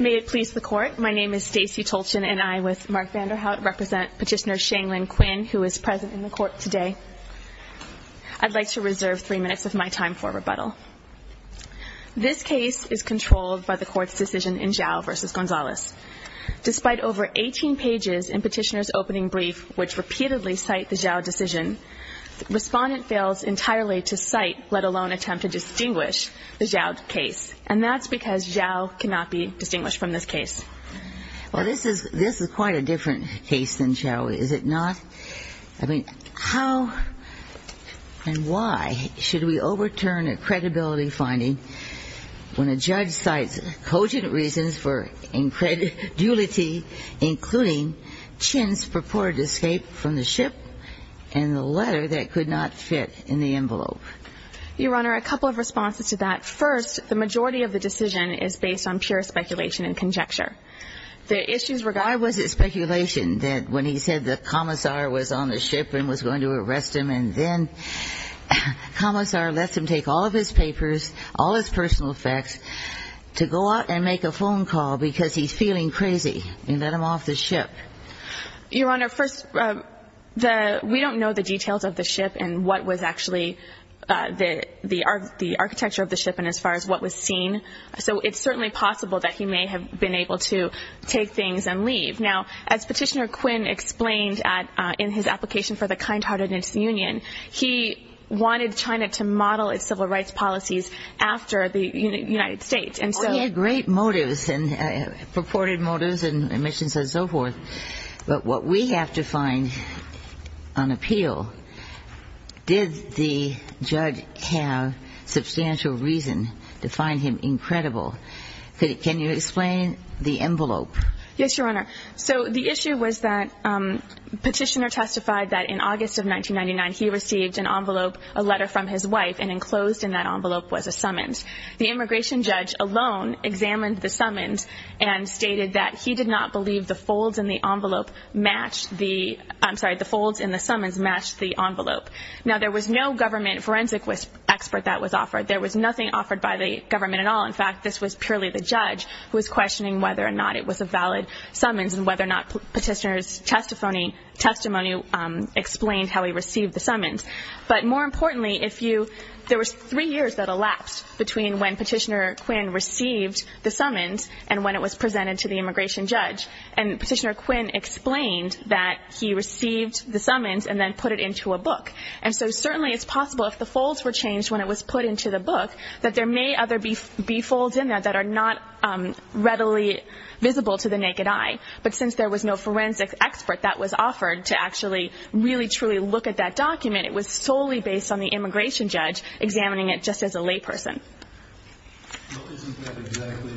May it please the Court, my name is Stacey Tolchin, and I, with Mark Vanderhout, represent Petitioner Shanglin Quinn, who is present in the Court today. I'd like to reserve three minutes of my time for rebuttal. This case is controlled by the Court's decision in Zhao v. Gonzalez. Despite over 18 pages in Petitioner's opening brief, which repeatedly cite the Zhao decision, the Respondent fails entirely to cite, let alone attempt to distinguish, the Zhao case. And that's because Zhao cannot be distinguished from this case. Well, this is quite a different case than Zhao. Is it not? I mean, how and why should we overturn a credibility finding when a judge cites cogent reasons for incredulity including Chin's purported escape from the ship and the letter that could not fit in the envelope? Your Honor, a couple of responses to that. First, the majority of the decision is based on pure speculation and conjecture. The issues regard Why was it speculation that when he said the Commissar was on the ship and was going to arrest him, and then Commissar lets him take all of his papers, all his personal facts, to go out and make a phone call because he's feeling crazy and let him off the ship? Your Honor, first, we don't know the details of the ship and what was actually the architecture of the ship and as far as what was seen. So it's certainly possible that he may have been able to take things and leave. Now, as Petitioner Quinn explained in his application for the He had great motives and purported motives and admissions and so forth, but what we have to find on appeal, did the judge have substantial reason to find him incredible? Can you explain the envelope? Yes, Your Honor. So the issue was that Petitioner testified that in August of 1999 he received an envelope, a letter from his wife, and enclosed in that envelope was a summons. The immigration judge alone examined the summons and stated that he did not believe the folds in the envelope matched the, I'm sorry, the folds in the summons matched the envelope. Now, there was no government forensic expert that was offered. There was nothing offered by the government at all. In fact, this was purely the judge who was questioning whether or not it was a valid summons and whether or not Petitioner's testimony explained how he received the summons. But Petitioner Quinn explained that he received the summons and then put it into a book. And so certainly it's possible if the folds were changed when it was put into the book that there may be other folds in there that are not readily visible to the naked eye. But since there was no forensic expert that was offered to actually really truly look at that document, it was solely based on the immigration judge examining it just as a layperson. Well, isn't that exactly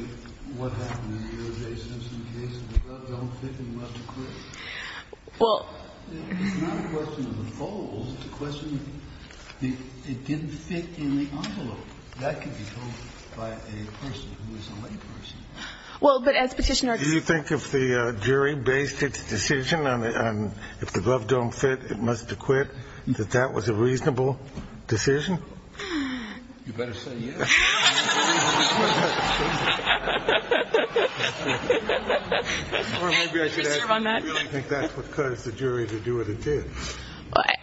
what happened in the O.J. Simpson case? The glove don't fit and you must acquit. Well, it's not a question of the folds. It's a question of it didn't fit in the envelope. That could be told by a person who is a layperson. Well, but as Petitioner Quinn said Do you think if the jury based its decision on if the glove don't fit, it must acquit, that that was a reasonable decision? You better say yes. Or maybe I should add you really think that's what caused the jury to do what it did.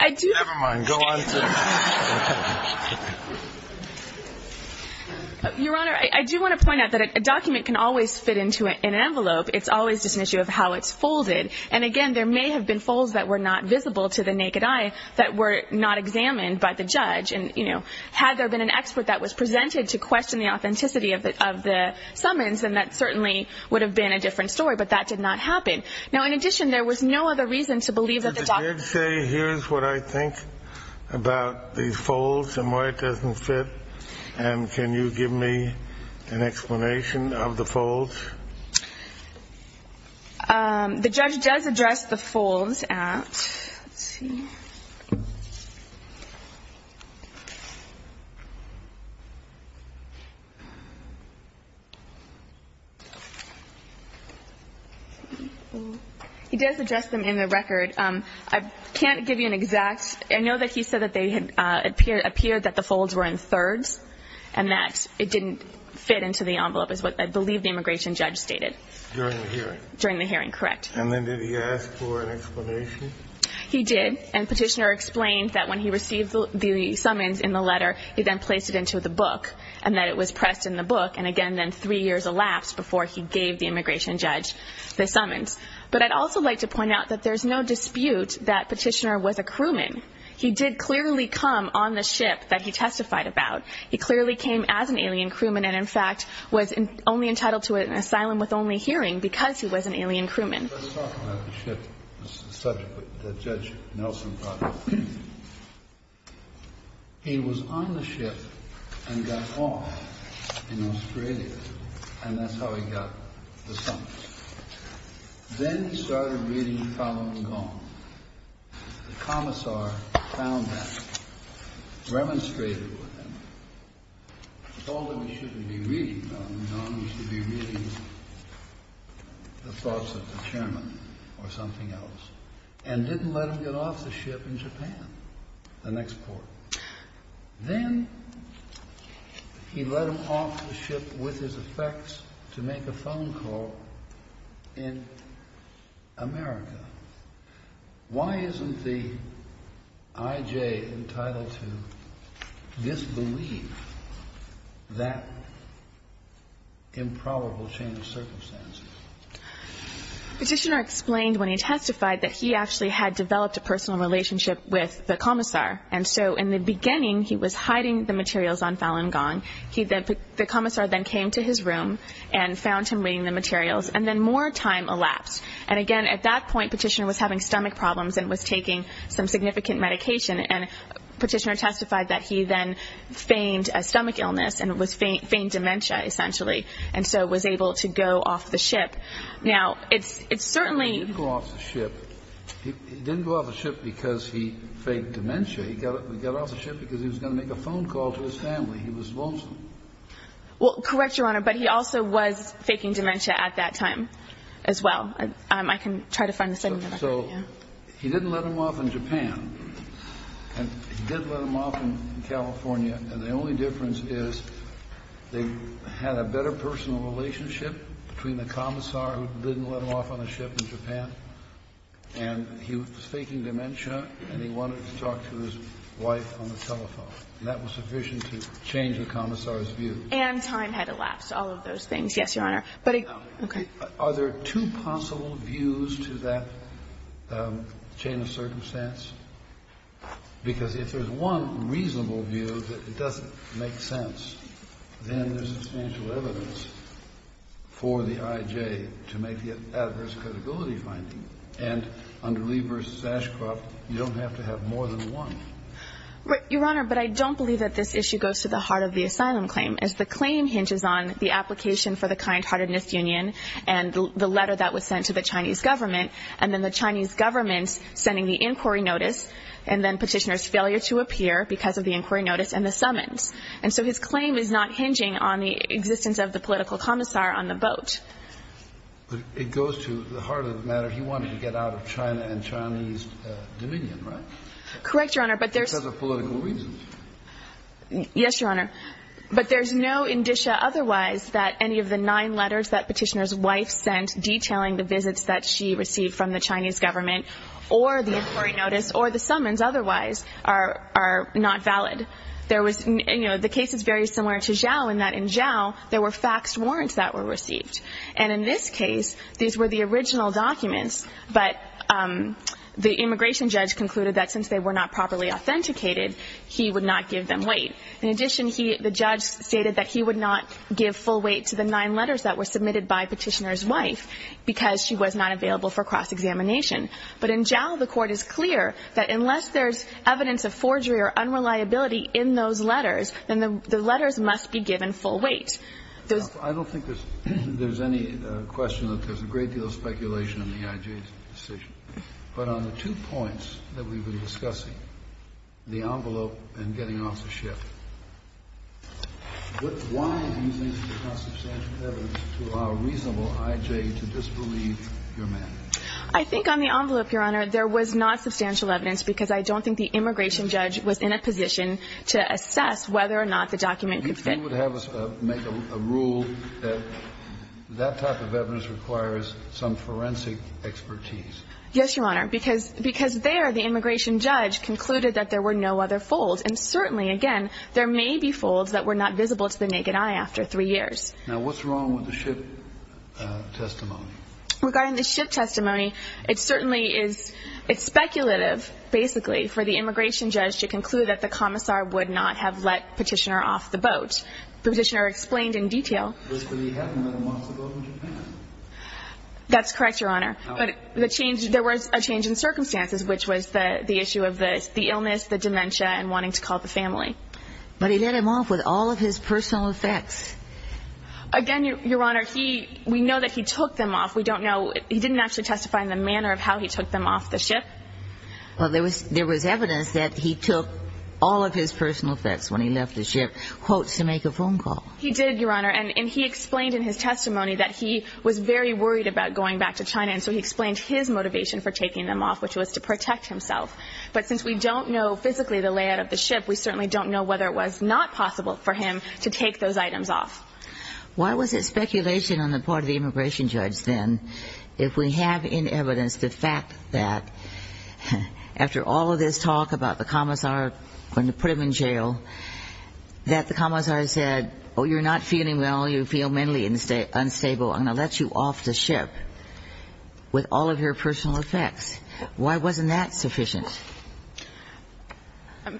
Never mind. Go on, sir. Your Honor, I do want to point out that a document can always fit into an envelope. It's always just an issue of how it's folded. And again, there may have been folds that were not visible to the naked eye that were not examined by the judge. And, you know, had there been an expert that was presented to question the authenticity of the summons, then that certainly would have been a different story. But that did not happen. Now, in addition, there was no other reason to believe that the document Did the judge say here's what I think about these folds and why it doesn't fit? And can you give me an explanation of the folds? The judge does address the folds at Let's see. He does address them in the record. I can't give you an exact I know that he said that they had appeared that the folds were in thirds and that it didn't fit into the envelope is what I believe the immigration judge stated during the hearing. Correct. And then did he ask for an explanation? He did. And Petitioner explained that when he received the summons in the letter, he then placed it into the book and that it was pressed in the book. And again, then three years elapsed before he gave the immigration judge the summons. But I'd also like to He did clearly come on the ship that he testified about. He clearly came as an alien crewman and in fact was only entitled to an asylum with only hearing because he was an alien The commissar found that, remonstrated with him, told him he shouldn't be reading that, he should be reading the thoughts of the chairman or something else, and didn't let him get off the ship in Japan, the next port. Then he let him off the ship with his effects to make a phone call in America. Why isn't the I.J. entitled to disbelieve that improbable chain of circumstances? Petitioner explained when he testified that he actually had developed a personal relationship with the commissar. And so in the beginning, he was hiding the materials on Falun Gong. The commissar then came to his room and found him reading the materials. And then more time elapsed. And again, at that point, Petitioner was having stomach problems and was taking some significant medication. And Petitioner testified that he then feigned a stomach illness and feigned dementia, essentially, and so was able to go off the ship. Now, it's certainly He didn't go off the ship. He didn't go off the ship because he feigned dementia. He got off the ship because he was going to make a phone call to his family. He was lonesome. Well, correct, Your Honor, but he also was faking dementia at that time as well. I can try to find the statement. So he didn't let him off in Japan. And he did let him off in California. And the only difference is they had a better personal relationship between the commissar who didn't let him off on a ship in Japan, and he was faking dementia, and he wanted to talk to his wife on the telephone. And that was sufficient to change the commissar's view. And time had elapsed, all of those things. Yes, Your Honor. But I Okay. Are there two possible views to that chain of circumstance? Because if there's one reasonable view that it doesn't make sense, then there's substantial evidence for the I.J. to make the adverse credibility finding. And under Lee v. Sashcroft, you don't have to have more than one. Your Honor, but I don't believe that this issue goes to the heart of the asylum claim, as the claim hinges on the application for the kind-heartedness union and the letter that was sent to the Chinese government, and then the Chinese government sending the inquiry notice, and then Petitioner's failure to appear because of the inquiry notice and the summons. And so his claim is not hinging on the existence of the political commissar on the boat. But it goes to the heart of the matter. He wanted to get out of China and Chinese dominion, right? Correct, Your Honor. But there's Because of political reasons. Yes, Your Honor. But there's no indicia otherwise that any of the nine letters that Petitioner's wife sent detailing the visits that she received from the Chinese government or the inquiry notice or the summons otherwise are not valid. There was the case is very similar to Zhao in that in Zhao there were faxed warrants that were received. And in this case, these were the original documents, but the immigration judge concluded that since they were not properly authenticated, he would not give them weight. In addition, he the judge stated that he would not give full weight to the nine letters that were submitted by Petitioner's wife because she was not available for cross-examination. But in Zhao, the Court is clear that unless there's evidence of forgery or unreliability in those letters, then the letters must be given full weight. I don't think there's any question that there's a great deal of speculation in the IJ's decision. But on the two points that we've been discussing, the envelope and getting off the ship, why do you think there's not substantial evidence to allow a reasonable IJ to disbelieve your mandate? I think on the envelope, Your Honor, there was not substantial evidence because I don't think the immigration judge was in a position to assess whether or not the document could fit. So you would have us make a rule that that type of evidence requires some forensic expertise? Yes, Your Honor, because there the immigration judge concluded that there were no other folds. And certainly, again, there may be folds that were not visible to the naked eye after three years. Now, what's wrong with the ship testimony? Regarding the ship testimony, it certainly is speculative, basically, for the immigration judge to conclude that the commissar would not have let Petitioner off the boat. Petitioner explained in detail. But he had let him off the boat in Japan. That's correct, Your Honor. But there was a change in circumstances, which was the issue of the illness, the dementia, and wanting to call the family. But he let him off with all of his personal effects. Again, Your Honor, we know that he took them off. We don't know. He didn't actually testify in the manner of how he took them off the ship. Well, there was evidence that he took all of his personal effects when he left the ship, quotes, to make a phone call. He did, Your Honor. And he explained in his testimony that he was very worried about going back to China. And so he explained his motivation for taking them off, which was to protect himself. But since we don't know physically the layout of the ship, we certainly don't know whether it was not possible for him to take those items off. Why was it speculation on the part of the immigration judge, then, if we have in evidence the fact that after all of this talk about the commissar going to put him in jail, that the commissar said, oh, you're not feeling well. You feel mentally unstable. I'm going to let you off the ship with all of your personal effects. Why wasn't that sufficient?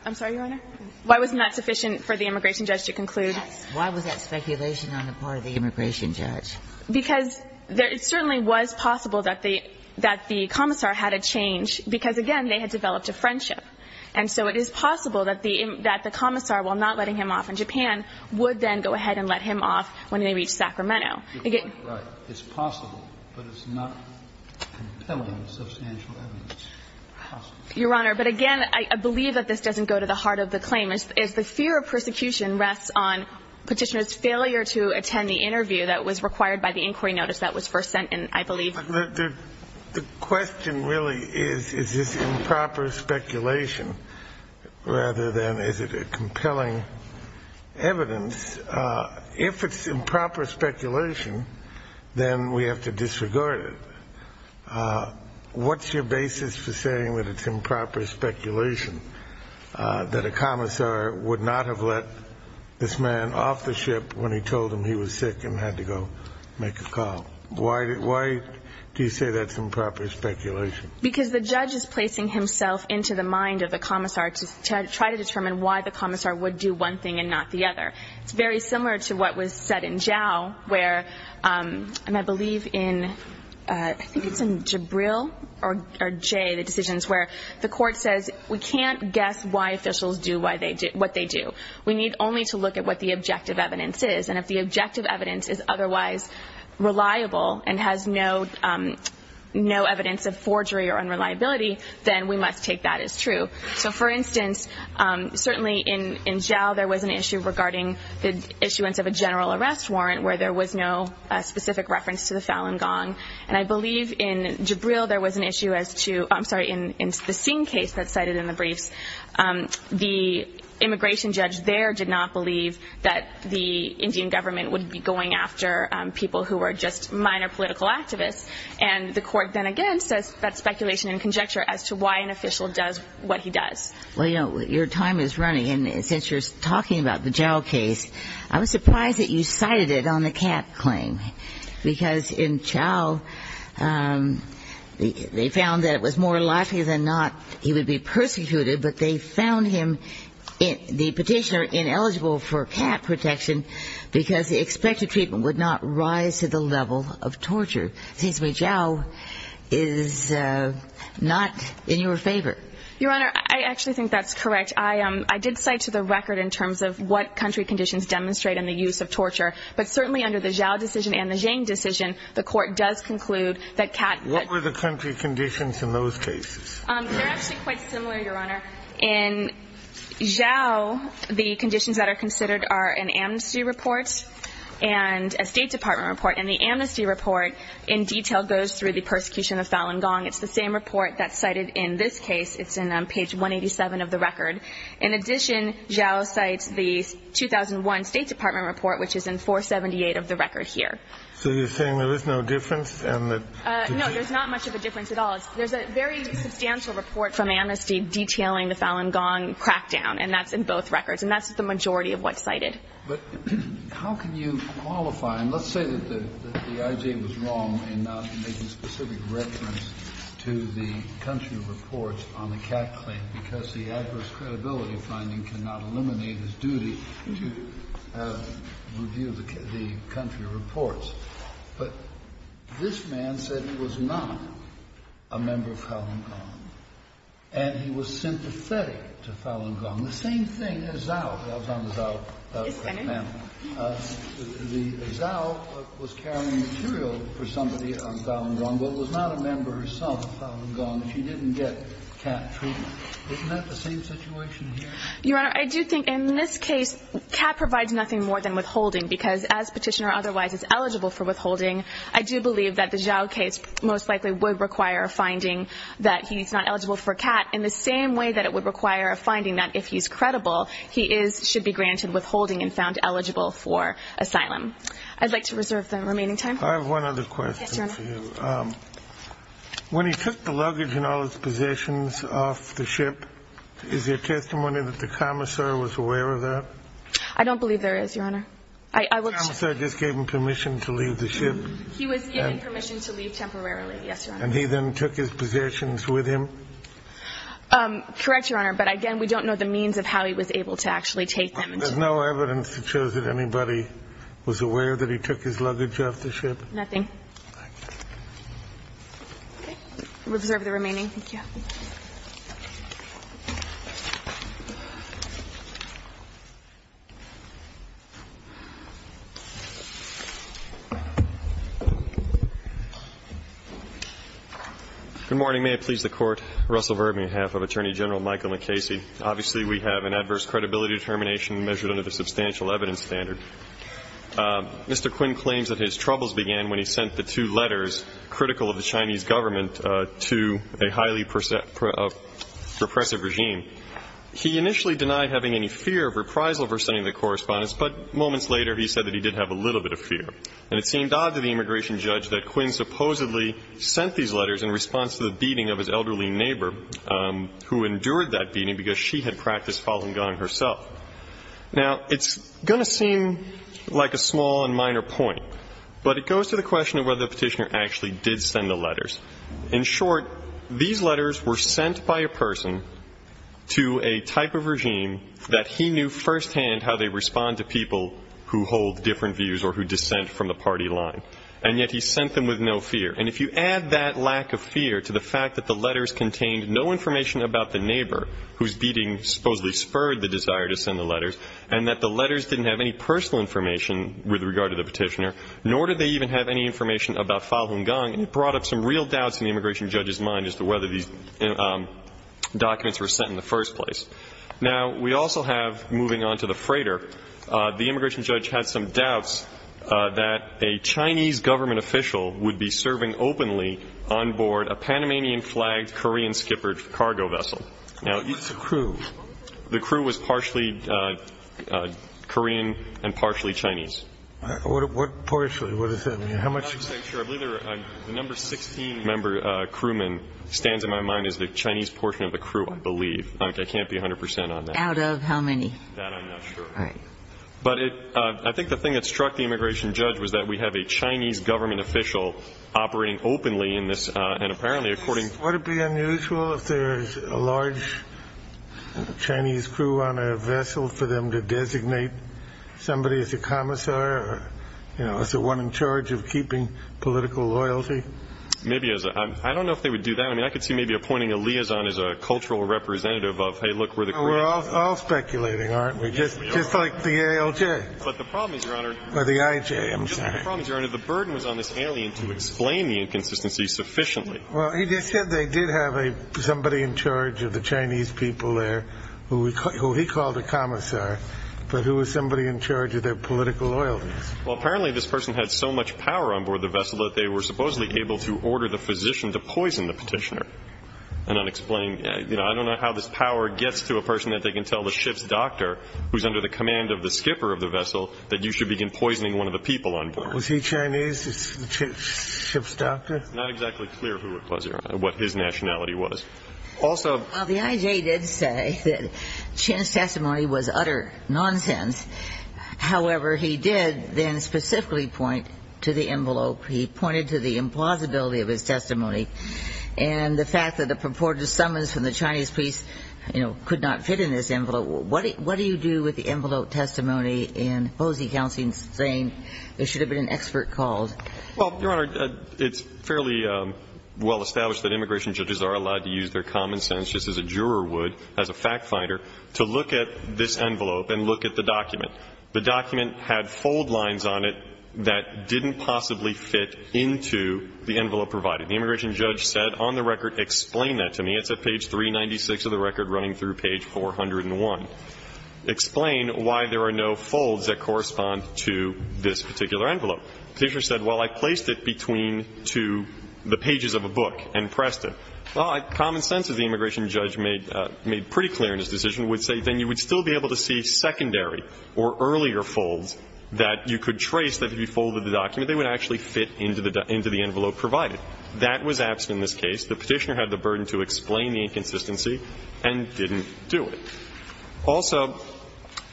I'm sorry, Your Honor? Why wasn't that sufficient for the immigration judge to conclude? Why was that speculation on the part of the immigration judge? Because it certainly was possible that the commissar had a change, because, again, they had developed a friendship. And so it is possible that the commissar, while not letting him off in Japan, would then go ahead and let him off when they reach Sacramento. It's possible, but it's not compelling substantial evidence. Your Honor, but again, I believe that this doesn't go to the heart of the claim. The fear of persecution rests on Petitioner's failure to attend the interview that was required by the inquiry notice that was first sent in, I believe. The question really is, is this improper speculation rather than is it compelling evidence? If it's improper speculation, then we have to disregard it. What's your basis for saying that it's improper speculation, that a commissar would not have let this man off the ship when he told him he was sick and had to go make a call? Why do you say that's improper speculation? Because the judge is placing himself into the mind of the commissar to try to determine why the commissar would do one thing and not the other. It's very similar to what was said in Zhao where, and I believe in, I think it's in Jibril or Jay, the decisions where the court says we can't guess why officials do what they do. We need only to look at what the objective evidence is. And if the objective evidence is otherwise reliable and has no evidence of forgery or unreliability, then we must take that as true. So, for instance, certainly in Zhao there was an issue regarding the issuance of a general arrest warrant where there was no specific reference to the Falun Gong. And I believe in Jibril there was an issue as to, I'm sorry, in the Singh case that's cited in the briefs, the immigration judge there did not believe that the Indian government would be going after people who were just minor political activists. And the court then again says that's speculation and conjecture as to why an official does what he does. Well, you know, your time is running. And since you're talking about the Zhao case, I was surprised that you cited it on the Kat claim. Because in Zhao they found that it was more likely than not he would be persecuted, but they found him, the petitioner, ineligible for Kat protection because the expected treatment would not rise to the level of torture. It seems to me Zhao is not in your favor. Your Honor, I actually think that's correct. I did cite to the record in terms of what country conditions demonstrate in the use of torture. But certainly under the Zhao decision and the Zhang decision, the court does conclude that Kat could. What were the country conditions in those cases? They're actually quite similar, Your Honor. In Zhao, the conditions that are considered are an amnesty report and a State Department report. And the amnesty report in detail goes through the persecution of Falun Gong. It's the same report that's cited in this case. It's on page 187 of the record. In addition, Zhao cites the 2001 State Department report, which is in 478 of the record here. So you're saying there is no difference? No, there's not much of a difference at all. There's a very substantial report from amnesty detailing the Falun Gong crackdown. And that's in both records. And that's the majority of what's cited. But how can you qualify? And let's say that the IG was wrong in not making specific reference to the country reports on the Kat claim because the adverse credibility finding cannot eliminate his duty to review the country reports. But this man said he was not a member of Falun Gong. And he was sympathetic to Falun Gong. The same thing as Zhao. I was on the Zhao panel. The Zhao was carrying material for somebody on Falun Gong, but was not a member herself of Falun Gong. She didn't get Kat treatment. Isn't that the same situation here? Your Honor, I do think in this case, Kat provides nothing more than withholding because as petitioner otherwise is eligible for withholding, I do believe that the Zhao case most likely would require a finding that he's not eligible for Kat in the same way that it would require a finding that if he's credible, he should be granted withholding and found eligible for asylum. I'd like to reserve the remaining time. I have one other question for you. Yes, Your Honor. When he took the luggage and all his possessions off the ship, is there testimony that the commissar was aware of that? I don't believe there is, Your Honor. The commissar just gave him permission to leave the ship. He was given permission to leave temporarily. Yes, Your Honor. And he then took his possessions with him? Correct, Your Honor. But, again, we don't know the means of how he was able to actually take them. There's no evidence that shows that anybody was aware that he took his luggage off the ship? Nothing. Thank you. We'll reserve the remaining. Thank you. Good morning. May it please the Court. Russell Verbeek, on behalf of Attorney General Michael McCasey. Obviously, we have an adverse credibility determination measured under the substantial evidence standard. Mr. Quinn claims that his troubles began when he sent the two letters, repressive regime. He initially denied having any fear of reprisal for sending the correspondence, but moments later he said that he did have a little bit of fear. And it seemed odd to the immigration judge that Quinn supposedly sent these letters in response to the beating of his elderly neighbor, who endured that beating because she had practiced falling gun herself. Now, it's going to seem like a small and minor point, but it goes to the question of whether the Petitioner actually did send the letters. In short, these letters were sent by a person to a type of regime that he knew firsthand how they respond to people who hold different views or who dissent from the party line. And yet he sent them with no fear. And if you add that lack of fear to the fact that the letters contained no information about the neighbor, whose beating supposedly spurred the desire to send the letters, and that the letters didn't have any personal information with regard to the Petitioner, nor did they even have any information about Falun Gong, it brought up some real doubts in the immigration judge's mind as to whether these documents were sent in the first place. Now, we also have, moving on to the freighter, the immigration judge had some doubts that a Chinese government official would be serving openly onboard a Panamanian-flagged Korean skipper cargo vessel. Now, the crew was partially Korean and partially Chinese. What partially? What does that mean? How much? I believe the number 16 crewman stands in my mind as the Chinese portion of the crew, I believe. I can't be 100 percent on that. Out of how many? That I'm not sure. All right. But I think the thing that struck the immigration judge was that we have a Chinese government official operating openly in this. And apparently, according to the immigration judge, it would be unusual if there is a large Chinese crew on a vessel for them to designate somebody as a commissar or, you know, as the one in charge of keeping political loyalty. Maybe as a ‑‑ I don't know if they would do that. I mean, I could see maybe appointing a liaison as a cultural representative of, hey, look, we're the Koreans. We're all speculating, aren't we? Yes, we are. Just like the ALJ. But the problem is, Your Honor ‑‑ Or the IJ, I'm sorry. Just the problem is, Your Honor, the burden was on this alien to explain the inconsistency sufficiently. Well, he just said they did have somebody in charge of the Chinese people there who he called a commissar, but who was somebody in charge of their political loyalties. Well, apparently this person had so much power on board the vessel that they were supposedly able to order the physician to poison the petitioner. An unexplained ‑‑ you know, I don't know how this power gets to a person that they can tell the ship's doctor, who's under the command of the skipper of the vessel, that you should begin poisoning one of the people on board. Was he Chinese, the ship's doctor? It's not exactly clear who it was, Your Honor, what his nationality was. Also ‑‑ Well, the IJ did say that Chin's testimony was utter nonsense. However, he did then specifically point to the envelope. He pointed to the implausibility of his testimony. And the fact that a purported summons from the Chinese police, you know, could not fit in this envelope. What do you do with the envelope testimony in Posey Counseling saying there should have been an expert called? Well, Your Honor, it's fairly well established that immigration judges are allowed to use their common sense, just as a juror would as a fact finder, to look at this envelope and look at the document. The document had fold lines on it that didn't possibly fit into the envelope provided. The immigration judge said, on the record, explain that to me. It's at page 396 of the record, running through page 401. Explain why there are no folds that correspond to this particular envelope. The Petitioner said, well, I placed it between to the pages of a book and pressed it. Well, common sense, as the immigration judge made pretty clear in his decision, would say then you would still be able to see secondary or earlier folds that you could trace that if you folded the document, they would actually fit into the envelope provided. That was absent in this case. The Petitioner had the burden to explain the inconsistency and didn't do it. Also,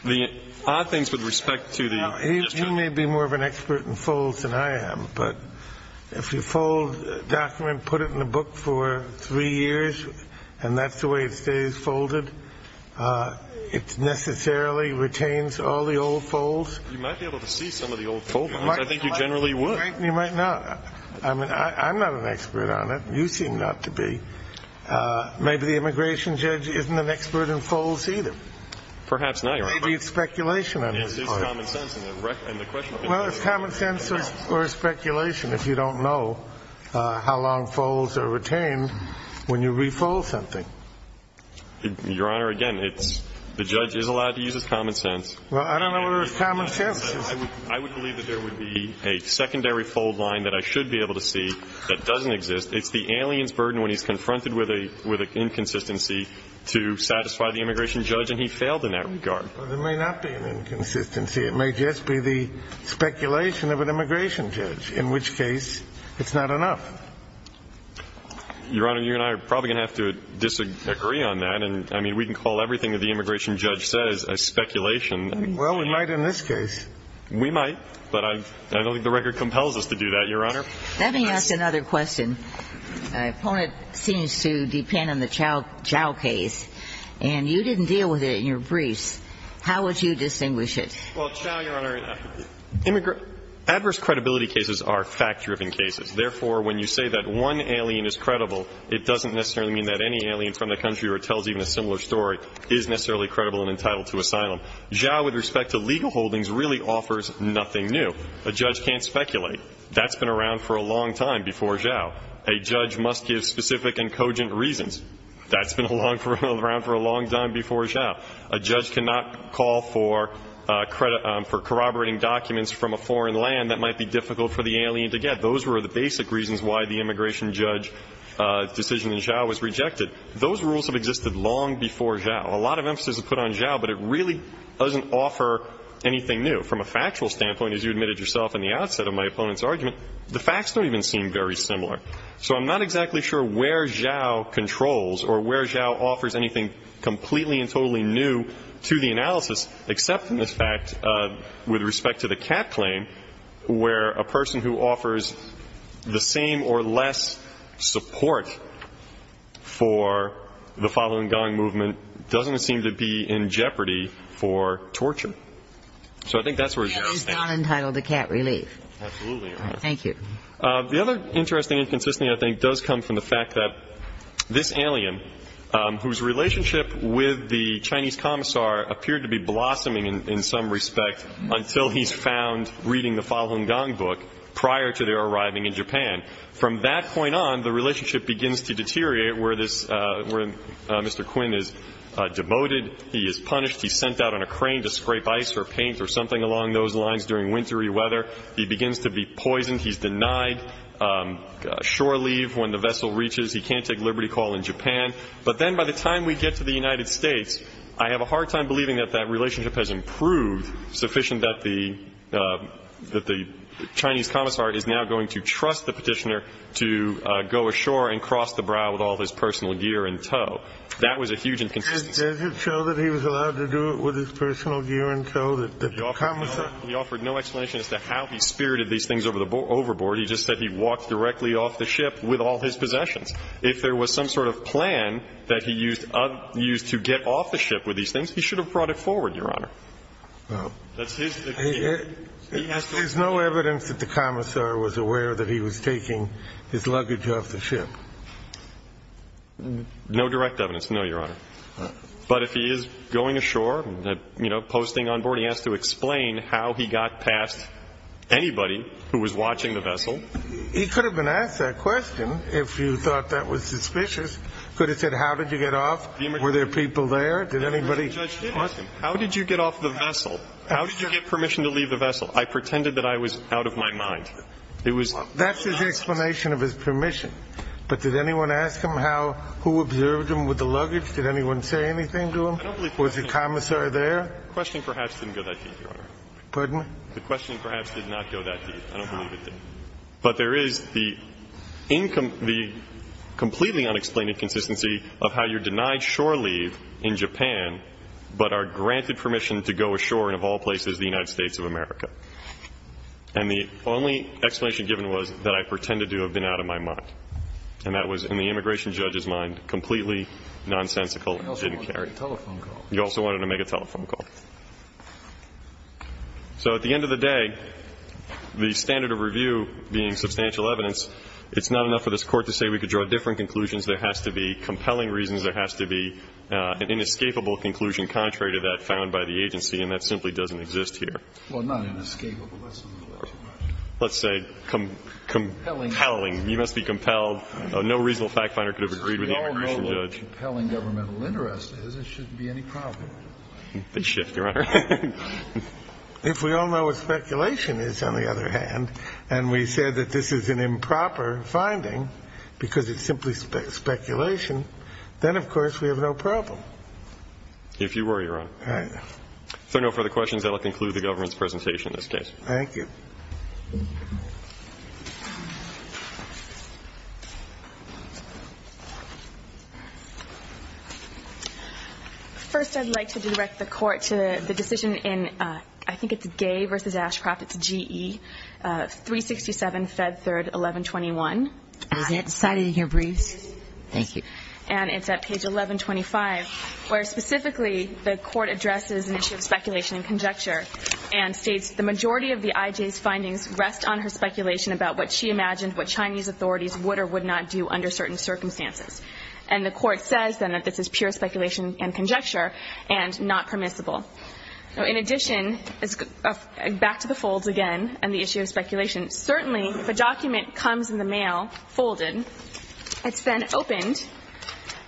the odd things with respect to the ‑‑ He may be more of an expert in folds than I am. But if you fold a document, put it in a book for three years, and that's the way it stays folded, it necessarily retains all the old folds. You might be able to see some of the old fold lines. I think you generally would. You might not. I'm not an expert on it. You seem not to be. Maybe the immigration judge isn't an expert in folds either. Perhaps not. Maybe it's speculation on his part. Well, it's common sense or it's speculation if you don't know how long folds are retained when you refold something. Your Honor, again, the judge is allowed to use his common sense. Well, I don't know whether it's common sense. I would believe that there would be a secondary fold line that I should be able to see that doesn't exist. It's the alien's burden when he's confronted with an inconsistency to satisfy the immigration judge, and he failed in that regard. Well, there may not be an inconsistency. It may just be the speculation of an immigration judge, in which case it's not enough. Your Honor, you and I are probably going to have to disagree on that, and, I mean, we can call everything that the immigration judge says a speculation. Well, we might in this case. We might, but I don't think the record compels us to do that, Your Honor. Let me ask another question. My opponent seems to depend on the Zhao case, and you didn't deal with it in your briefs. How would you distinguish it? Well, Zhao, Your Honor, adverse credibility cases are fact-driven cases. Therefore, when you say that one alien is credible, it doesn't necessarily mean that any alien from the country or tells even a similar story is necessarily credible and entitled to asylum. Zhao, with respect to legal holdings, really offers nothing new. A judge can't speculate. That's been around for a long time before Zhao. A judge must give specific and cogent reasons. That's been around for a long time before Zhao. A judge cannot call for corroborating documents from a foreign land that might be difficult for the alien to get. Those were the basic reasons why the immigration judge decision in Zhao was rejected. Those rules have existed long before Zhao. A lot of emphasis is put on Zhao, but it really doesn't offer anything new. And from a factual standpoint, as you admitted yourself in the outset of my opponent's argument, the facts don't even seem very similar. So I'm not exactly sure where Zhao controls or where Zhao offers anything completely and totally new to the analysis, except in this fact with respect to the cat claim, where a person who offers the same or less support for the following gang movement doesn't seem to be in jeopardy for torture. So I think that's where Zhao stands. The cat is not entitled to cat relief. Absolutely, Your Honor. Thank you. The other interesting inconsistency I think does come from the fact that this alien, whose relationship with the Chinese commissar appeared to be blossoming in some respect until he's found reading the following gang book prior to their arriving in Japan. From that point on, the relationship begins to deteriorate where this Mr. Quinn is demoted, he is punished, he's sent out on a crane to scrape ice or paint or something along those lines during wintry weather, he begins to be poisoned, he's denied shore leave when the vessel reaches, he can't take liberty call in Japan. But then by the time we get to the United States, I have a hard time believing that that relationship has improved sufficient that the Chinese commissar is now going to trust the Petitioner to go ashore and cross the brow with all of his personal gear in tow. That was a huge inconsistency. Does it show that he was allowed to do it with his personal gear in tow, that the commissar He offered no explanation as to how he spirited these things overboard. He just said he walked directly off the ship with all his possessions. If there was some sort of plan that he used to get off the ship with these things, he should have brought it forward, Your Honor. There's no evidence that the commissar was aware that he was taking his luggage off the ship. No direct evidence, no, Your Honor. But if he is going ashore, you know, posting on board, he has to explain how he got past anybody who was watching the vessel. He could have been asked that question if you thought that was suspicious. Could have said, how did you get off? Were there people there? Did anybody ask him? How did you get off the vessel? How did you get permission to leave the vessel? I pretended that I was out of my mind. That's his explanation of his permission. But did anyone ask him how, who observed him with the luggage? Did anyone say anything to him? I don't believe that. Was the commissar there? The question perhaps didn't go that deep, Your Honor. Pardon? The question perhaps did not go that deep. I don't believe it did. But there is the incom – the completely unexplained inconsistency of how you're denied shore leave in Japan but are granted permission to go ashore in, of all places, the United States of America. And the only explanation given was that I pretended to have been out of my mind. And that was, in the immigration judge's mind, completely nonsensical and didn't carry. You also wanted to make a telephone call. You also wanted to make a telephone call. So at the end of the day, the standard of review being substantial evidence, it's not enough for this Court to say we could draw different conclusions. There has to be compelling reasons. There has to be an inescapable conclusion contrary to that found by the agency, and that simply doesn't exist here. Well, not inescapable. That's a little too much. Let's say compelling. You must be compelled. No reasonable fact finder could have agreed with the immigration judge. As compelling governmental interest is, it shouldn't be any problem. They shift, Your Honor. If we all know what speculation is, on the other hand, and we said that this is an improper finding because it's simply speculation, then, of course, we have no problem. If you were, Your Honor. All right. If there are no further questions, I will conclude the government's presentation in this case. Thank you. First, I'd like to direct the Court to the decision in, I think it's Gay v. Ashcroft, it's G.E. 367, Fed 3rd, 1121. Is that decided in your briefs? Thank you. And it's at page 1125, where specifically the Court addresses an issue of speculation and conjecture and states the majority of the I.J.'s findings rest on her speculation about what she imagined what Chinese authorities would or would not do under certain circumstances. And the Court says, then, that this is pure speculation and conjecture and not permissible. In addition, back to the folds again and the issue of speculation. Certainly, if a document comes in the mail folded, it's been opened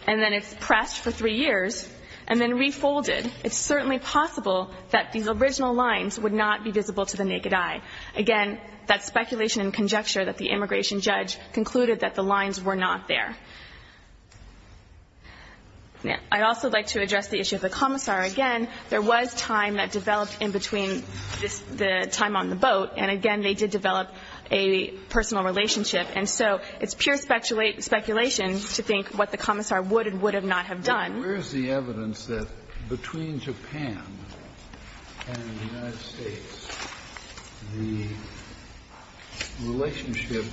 and then it's pressed for three years and then refolded, it's certainly possible that these original lines would not be visible to the naked eye. Again, that's speculation and conjecture that the immigration judge concluded that the lines were not there. I'd also like to address the issue of the commissar. Again, there was time that developed in between the time on the boat, and again, they did develop a personal relationship. And so it's pure speculation to think what the commissar would and would not have done. Kennedy, where is the evidence that between Japan and the United States, the relationship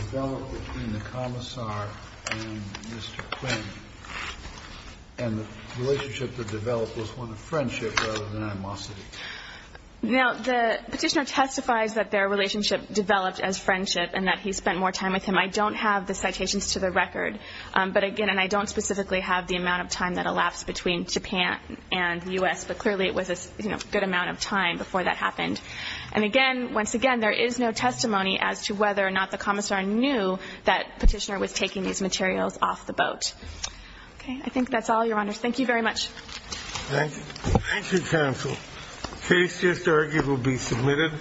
developed between the commissar and Mr. Quinn, and the relationship that developed was one of friendship rather than animosity? Now, the Petitioner testifies that their relationship developed as friendship and that he spent more time with him. I don't have the citations to the record. But again, and I don't specifically have the amount of time that elapsed between Japan and the U.S., but clearly it was a good amount of time before that happened. And again, once again, there is no testimony as to whether or not the commissar knew that Petitioner was taking these materials off the boat. Okay. I think that's all, Your Honors. Thank you very much. Thank you. Thank you, counsel. Case just argued will be submitted.